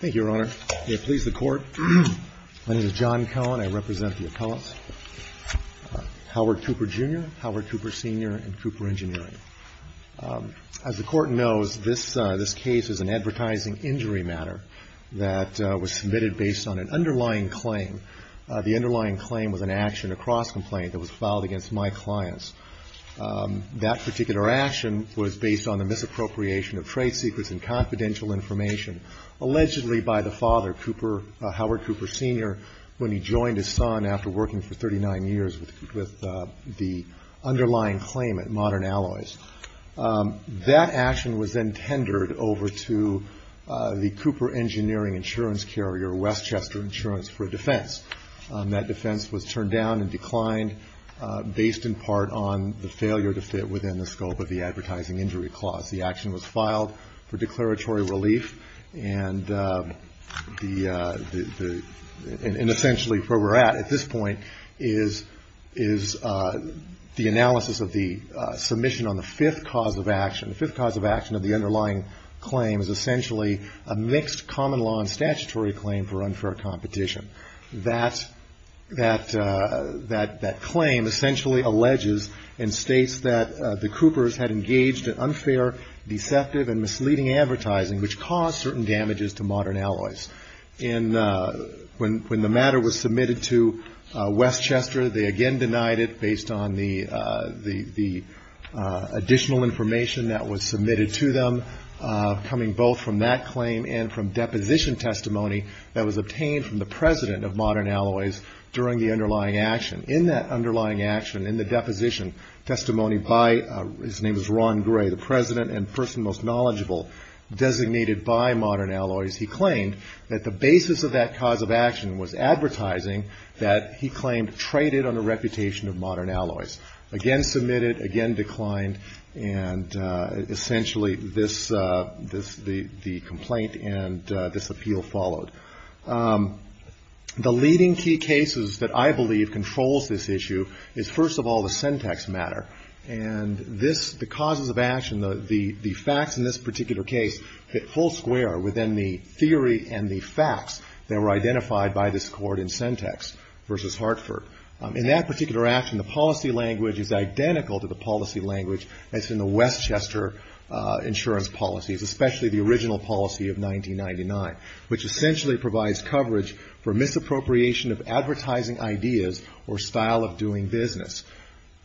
Thank you, Your Honor. May it please the Court. My name is John Cohen. I represent the appellants, Howard Cooper, Jr., Howard Cooper, Sr., and Cooper Engineering. As the Court knows, this case is an advertising injury matter that was submitted based on an underlying claim. The underlying claim was an action, a cross-complaint, that was filed against my clients. That particular action was based on the misappropriation of trade secrets and confidential information, allegedly by the father, Howard Cooper, Sr., when he joined his son after working for 39 years with the underlying claimant, Modern Alloys. That action was then tendered over to the Cooper Engineering insurance carrier, Westchester Insurance, for a defense. That defense was turned down and declined based in part on the failure to fit within the scope of the advertising injury clause. The action was filed for declaratory relief, and essentially where we're at at this point is the analysis of the submission on the fifth cause of action. The fifth cause of action of the underlying claim is essentially a mixed common law and statutory claim for unfair competition. That claim essentially alleges and states that the Coopers had engaged in unfair, deceptive, and misleading advertising, which caused certain damages to Modern Alloys. When the matter was submitted to Westchester, they again denied it based on the additional information that was submitted to them, coming both from that claim and from deposition testimony that was obtained from the president of Modern Alloys during the underlying action. In that underlying action, in the deposition testimony by, his name is Ron Gray, the president and person most knowledgeable designated by Modern Alloys, he claimed that the basis of that cause of action was advertising that he claimed traded on the reputation of Modern Alloys. Again submitted, again declined, and essentially this, the complaint and this appeal followed. The leading key cases that I believe controls this issue is, first of all, the Sentex matter. And this, the causes of action, the facts in this particular case, fit full square within the theory and the facts that were identified by this court in Sentex versus Hartford. In that particular action, the policy language is identical to the policy language that's in the Westchester insurance policies, especially the original policy of 1999, which essentially provides coverage for misappropriation of advertising ideas or style of doing business.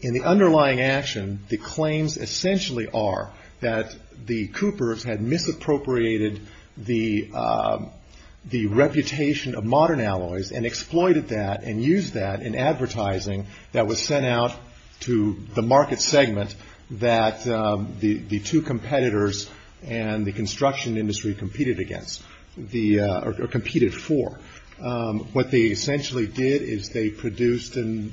In the underlying action, the claims essentially are that the Coopers had misappropriated the reputation of Modern Alloys and exploited that and used that in advertising that was sent out to the market segment that the two competitors and the construction industry competed against, or competed for. What they essentially did is they produced and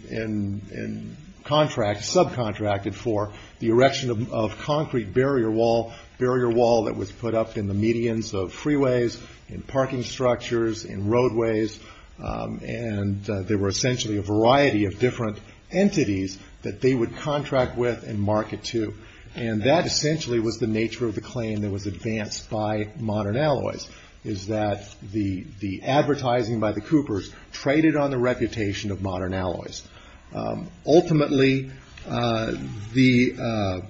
subcontracted for the erection of concrete barrier wall, barrier wall that was put up in the medians of freeways, in parking structures, in roadways, and there were essentially a variety of different entities that they would contract with and market to. And that essentially was the nature of the claim that was advanced by Modern Alloys, is that the advertising by the Coopers traded on the reputation of Modern Alloys. Ultimately, the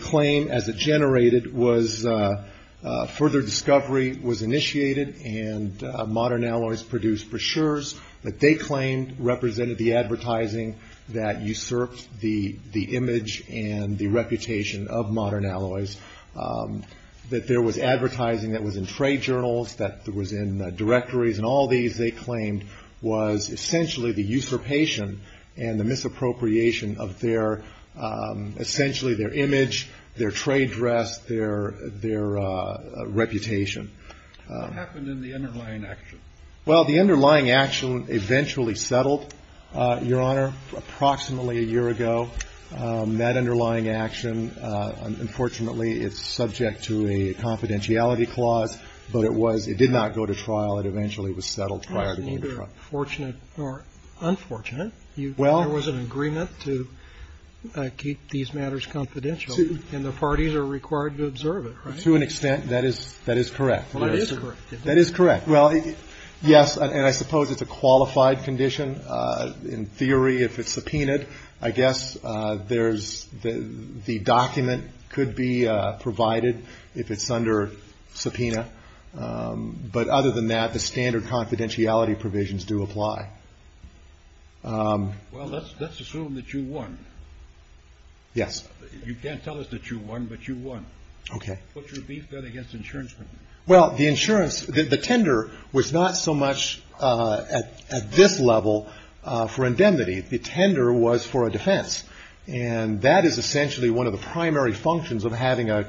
claim as it generated was further discovery was initiated and Modern Alloys produced brochures that they claimed represented the advertising that usurped the image and the reputation of Modern Alloys, that there was advertising that was in trade journals, that was in directories, and all these they claimed was essentially the usurpation and the misappropriation of their, essentially their image, their trade dress, their reputation. What happened in the underlying action? Well, the underlying action eventually settled, Your Honor, approximately a year ago. That underlying action, unfortunately, it's subject to a confidentiality clause, but it did not go to trial. It eventually was settled prior to going to trial. It was neither fortunate nor unfortunate. There was an agreement to keep these matters confidential, and the parties are required to observe it, right? To an extent, that is correct. Well, it is correct. That is correct. Well, yes, and I suppose it's a qualified condition in theory if it's subpoenaed. I guess there's the document could be provided if it's under subpoena. But other than that, the standard confidentiality provisions do apply. Well, let's assume that you won. Yes. You can't tell us that you won, but you won. Okay. What's your beef bet against insurance companies? Well, the insurance, the tender was not so much at this level for indemnity. The tender was for a defense. And that is essentially one of the primary functions of having a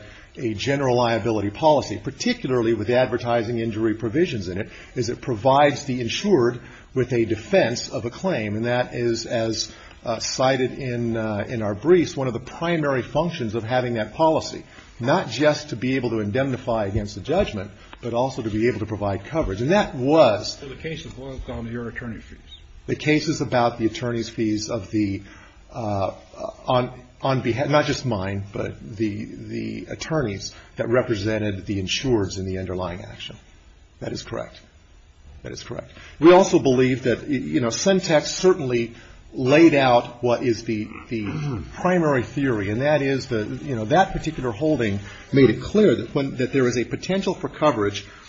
general liability policy, particularly with the advertising injury provisions in it, is it provides the insured with a defense of a claim. And that is, as cited in our briefs, one of the primary functions of having that policy, not just to be able to indemnify against the judgment, but also to be able to provide coverage. And that was the case. So the case was on your attorney fees? The case is about the attorney's fees of the, on behalf, not just mine, but the attorneys that represented the insurers in the underlying action. That is correct. That is correct. We also believe that, you know, Sentex certainly laid out what is the primary theory, and that is, you know,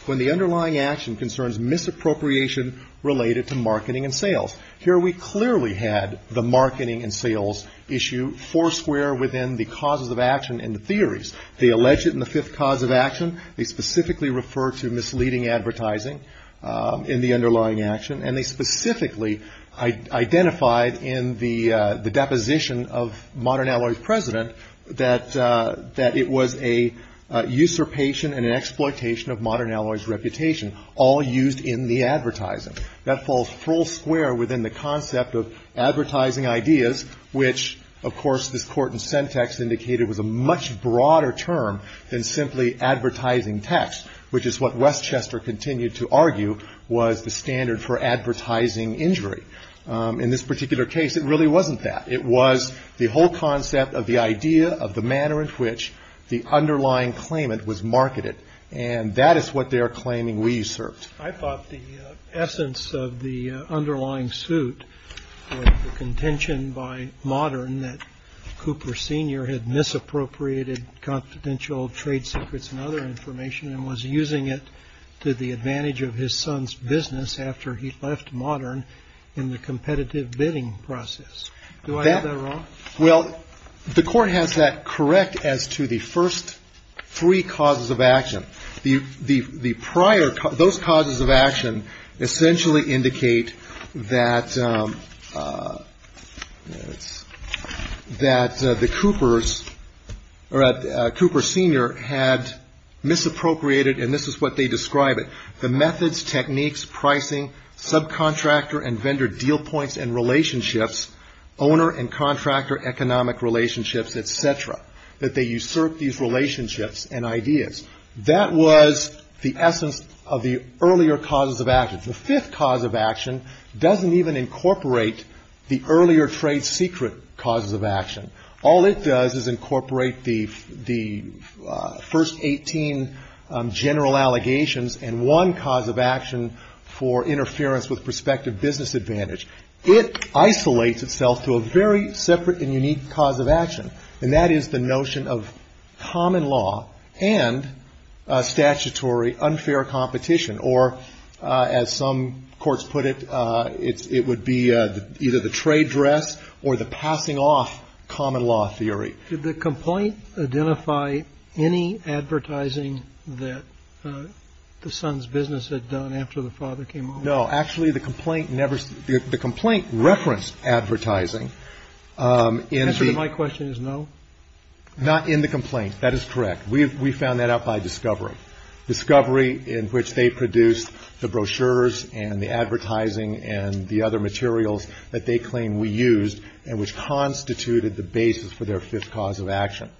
when the underlying action concerns misappropriation related to marketing and sales. Here we clearly had the marketing and sales issue four square within the causes of action and the theories. They allege it in the fifth cause of action. They specifically refer to misleading advertising in the underlying action. And they specifically identified in the deposition of Modern Alloy's president that it was a usurpation and an exploitation of Modern Alloy's reputation, all used in the advertising. That falls full square within the concept of advertising ideas, which of course this court in Sentex indicated was a much broader term than simply advertising text, which is what Westchester continued to argue was the standard for advertising injury. In this particular case, it really wasn't that. It was the whole concept of the idea of the manner in which the underlying claimant was marketed, and that is what they are claiming we usurped. I thought the essence of the underlying suit was the contention by Modern that Cooper Sr. had misappropriated confidential trade secrets and other information and was using it to the advantage of his son's business after he left Modern in the competitive bidding process. Do I have that wrong? Well, the court has that correct as to the first three causes of action. Those causes of action essentially indicate that Cooper Sr. had misappropriated, and this is what they describe it, the methods, techniques, pricing, subcontractor and vendor deal points and relationships, owner and contractor economic relationships, et cetera, that they usurp these relationships and ideas. That was the essence of the earlier causes of action. The fifth cause of action doesn't even incorporate the earlier trade secret causes of action. All it does is incorporate the first 18 general allegations and one cause of action for interference with prospective business advantage. It isolates itself to a very separate and unique cause of action, and that is the notion of common law and statutory unfair competition, or as some courts put it, it would be either the trade dress or the passing off common law theory. Did the complaint identify any advertising that the son's business had done after the father came home? No. Actually, the complaint referenced advertising. The answer to my question is no. Not in the complaint. That is correct. We found that out by discovery, discovery in which they produced the brochures and the advertising and the other materials that they claim we used and which constituted the basis for their fifth cause of action.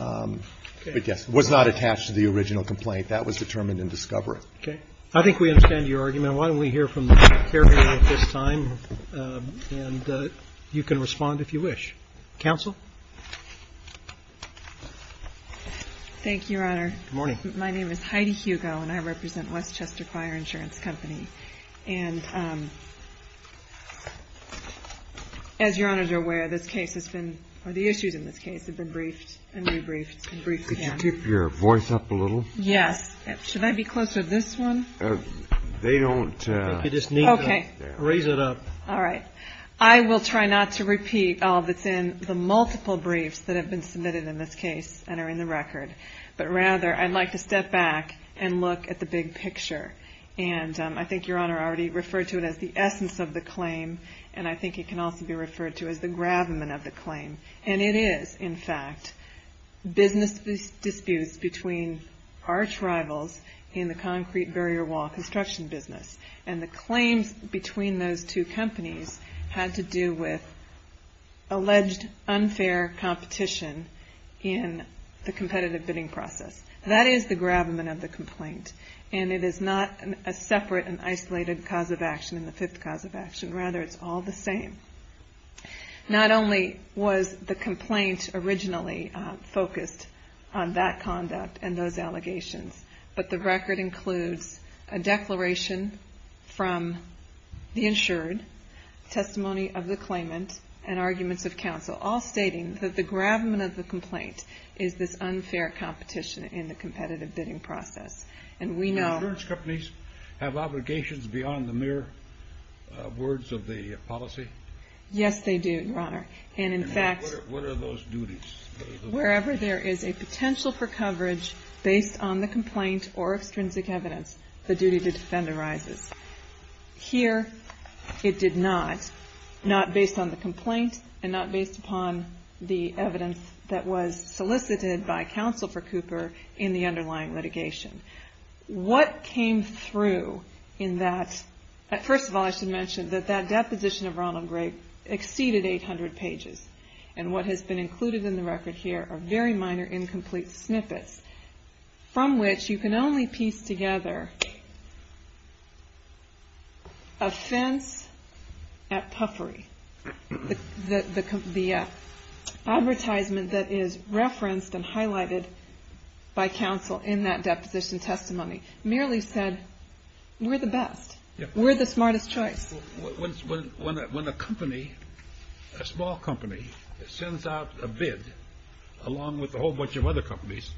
Okay. But, yes, it was not attached to the original complaint. That was determined in discovery. Okay. I think we understand your argument. Why don't we hear from the caregiver at this time, and you can respond if you wish. Counsel? Thank you, Your Honor. Good morning. My name is Heidi Hugo, and I represent Westchester Choir Insurance Company. And as Your Honor is aware, this case has been, or the issues in this case have been briefed and rebriefed and briefed again. Could you keep your voice up a little? Yes. Should I be closer to this one? They don't. Okay. Raise it up. All right. I will try not to repeat all that's in the multiple briefs that have been submitted in this case and are in the record. But, rather, I'd like to step back and look at the big picture. And I think Your Honor already referred to it as the essence of the claim, and I think it can also be referred to as the gravamen of the claim. And it is, in fact, business disputes between arch rivals in the concrete barrier wall construction business. And the claims between those two companies had to do with alleged unfair competition in the competitive bidding process. That is the gravamen of the complaint. And it is not a separate and isolated cause of action in the fifth cause of action. Rather, it's all the same. Not only was the complaint originally focused on that conduct and those allegations, but the record includes a declaration from the insured, testimony of the claimant, and arguments of counsel, all stating that the gravamen of the complaint is this unfair competition in the competitive bidding process. And we know... Do insurance companies have obligations beyond the mere words of the policy? Yes, they do, Your Honor. And, in fact... And what are those duties? Wherever there is a potential for coverage based on the complaint or extrinsic evidence, the duty to defend arises. Here, it did not. Not based on the complaint, and not based upon the evidence that was solicited by counsel for Cooper in the underlying litigation. What came through in that... First of all, I should mention that that deposition of Ronald Grape exceeded 800 pages. And what has been included in the record here are very minor, incomplete snippets from which you can only piece together a fence at puffery. The advertisement that is referenced and highlighted by counsel in that deposition testimony merely said, we're the best. We're the smartest choice. When a company, a small company, sends out a bid along with a whole bunch of other companies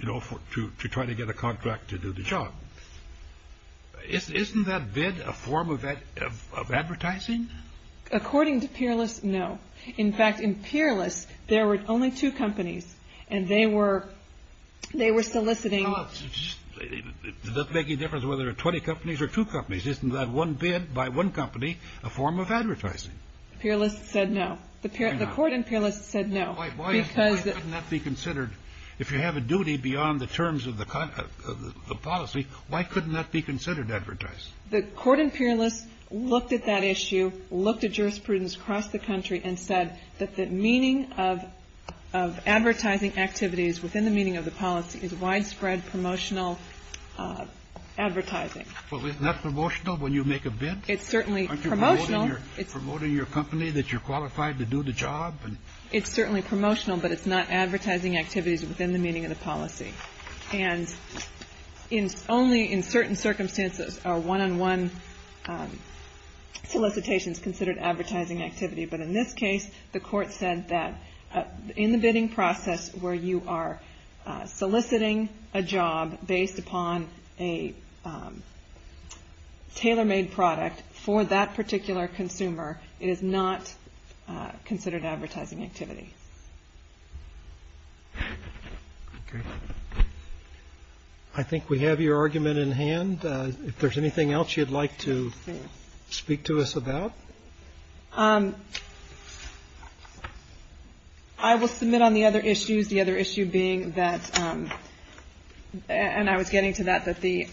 to try to get a contract to do the job, isn't that bid a form of advertising? According to Peerless, no. In fact, in Peerless, there were only two companies, and they were soliciting... It doesn't make any difference whether there are 20 companies or two companies. Isn't that one bid by one company a form of advertising? Peerless said no. The court in Peerless said no. Why couldn't that be considered? If you have a duty beyond the terms of the policy, why couldn't that be considered advertising? The court in Peerless looked at that issue, looked at jurisprudence across the country, and said that the meaning of advertising activities within the meaning of the policy is widespread promotional advertising. Well, isn't that promotional when you make a bid? It's certainly promotional. Aren't you promoting your company that you're qualified to do the job? It's certainly promotional, but it's not advertising activities within the meaning of the policy. And only in certain circumstances are one-on-one solicitations considered advertising activity. But in this case, the court said that in the bidding process where you are soliciting a job based upon a tailor-made product for that particular consumer, it is not considered advertising activity. Okay. I think we have your argument in hand. If there's anything else you'd like to speak to us about? I will submit on the other issues, the other issue being that, and I was getting to that, that the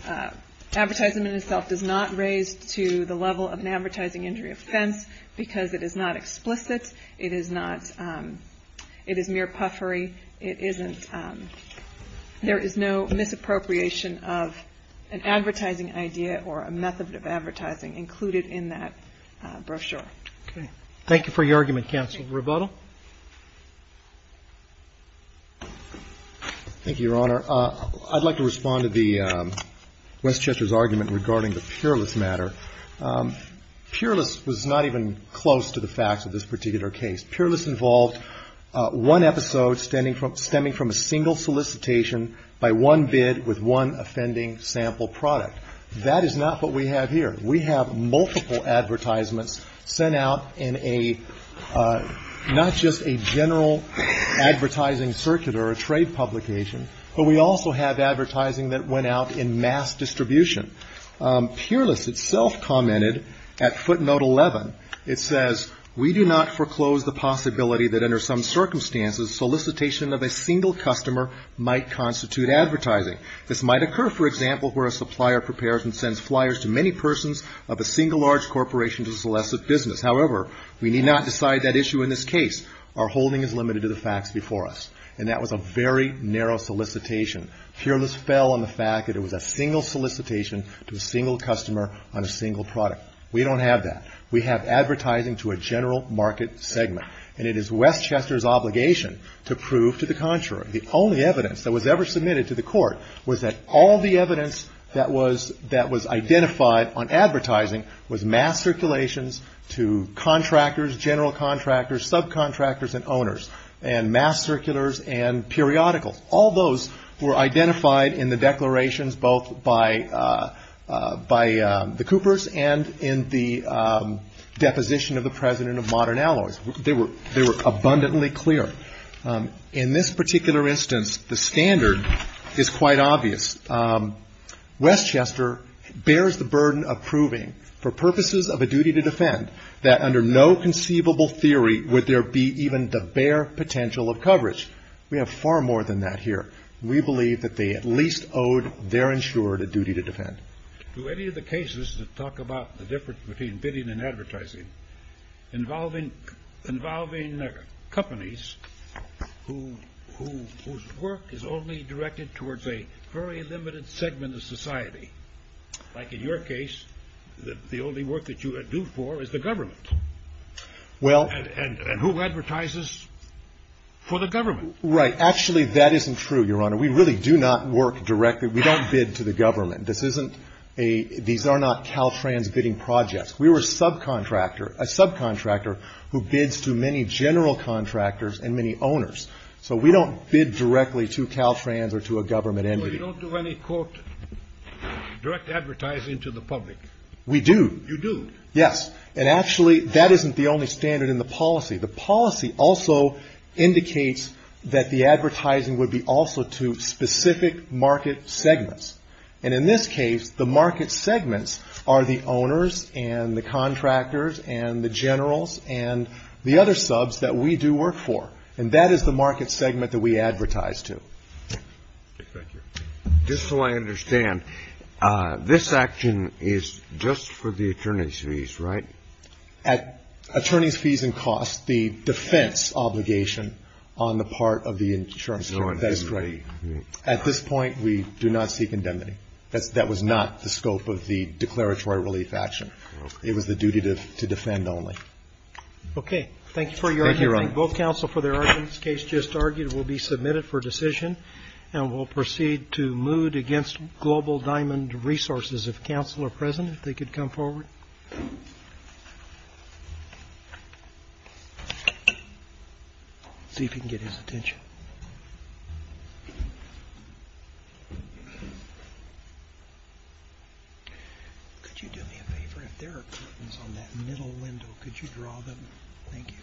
advertisement itself does not raise to the level of an advertising injury offense because it is not explicit. It is not ñ it is mere puffery. It isn't ñ there is no misappropriation of an advertising idea or a method of advertising included in that brochure. Okay. Thank you for your argument, Counsel Rebuttal. Thank you, Your Honor. I'd like to respond to the ñ Westchester's argument regarding the peerless matter. Peerless was not even close to the facts of this particular case. Peerless involved one episode stemming from a single solicitation by one bid with one offending sample product. That is not what we have here. We have multiple advertisements sent out in a ñ not just a general advertising circuit or a trade publication, but we also have advertising that went out in mass distribution. Peerless itself commented at footnote 11. It says, We do not foreclose the possibility that under some circumstances solicitation of a single customer might constitute advertising. This might occur, for example, where a supplier prepares and sends flyers to many persons of a single large corporation to solicit business. However, we need not decide that issue in this case. Our holding is limited to the facts before us. And that was a very narrow solicitation. Peerless fell on the fact that it was a single solicitation to a single customer on a single product. We don't have that. We have advertising to a general market segment. And it is Westchester's obligation to prove to the contrary. The only evidence that was ever submitted to the court was that all the evidence that was identified on advertising was mass circulations to contractors, general contractors, subcontractors and owners, and mass circulars and periodicals. All those were identified in the declarations both by the Coopers and in the deposition of the president of Modern Alloys. They were abundantly clear. In this particular instance, the standard is quite obvious. Westchester bears the burden of proving for purposes of a duty to defend that under no conceivable theory would there be even the bare potential of coverage. We have far more than that here. We believe that they at least owed their insurer a duty to defend. Do any of the cases that talk about the difference between bidding and advertising involving companies whose work is only directed towards a very limited segment of society, like in your case, the only work that you do for is the government, and who advertises for the government? Right. Actually, that isn't true, Your Honor. We really do not work directly. We don't bid to the government. These are not Caltrans bidding projects. We were a subcontractor who bids to many general contractors and many owners. So we don't bid directly to Caltrans or to a government entity. So you don't do any, quote, direct advertising to the public? We do. You do? Yes. And actually, that isn't the only standard in the policy. The policy also indicates that the advertising would be also to specific market segments. And in this case, the market segments are the owners and the contractors and the generals and the other subs that we do work for. And that is the market segment that we advertise to. Thank you. Just so I understand, this action is just for the attorney's fees, right? At attorney's fees and costs, the defense obligation on the part of the insurance company. That is correct. At this point, we do not seek indemnity. That was not the scope of the declaratory relief action. It was the duty to defend only. Okay. Thank you for your argument. Thank you, Your Honor. Both counsel for their arguments case just argued will be submitted for decision. And we'll proceed to moot against Global Diamond Resources. If counsel are present, if they could come forward. See if you can get his attention. Could you do me a favor? If there are curtains on that middle window, could you draw them? Thank you. Thank you.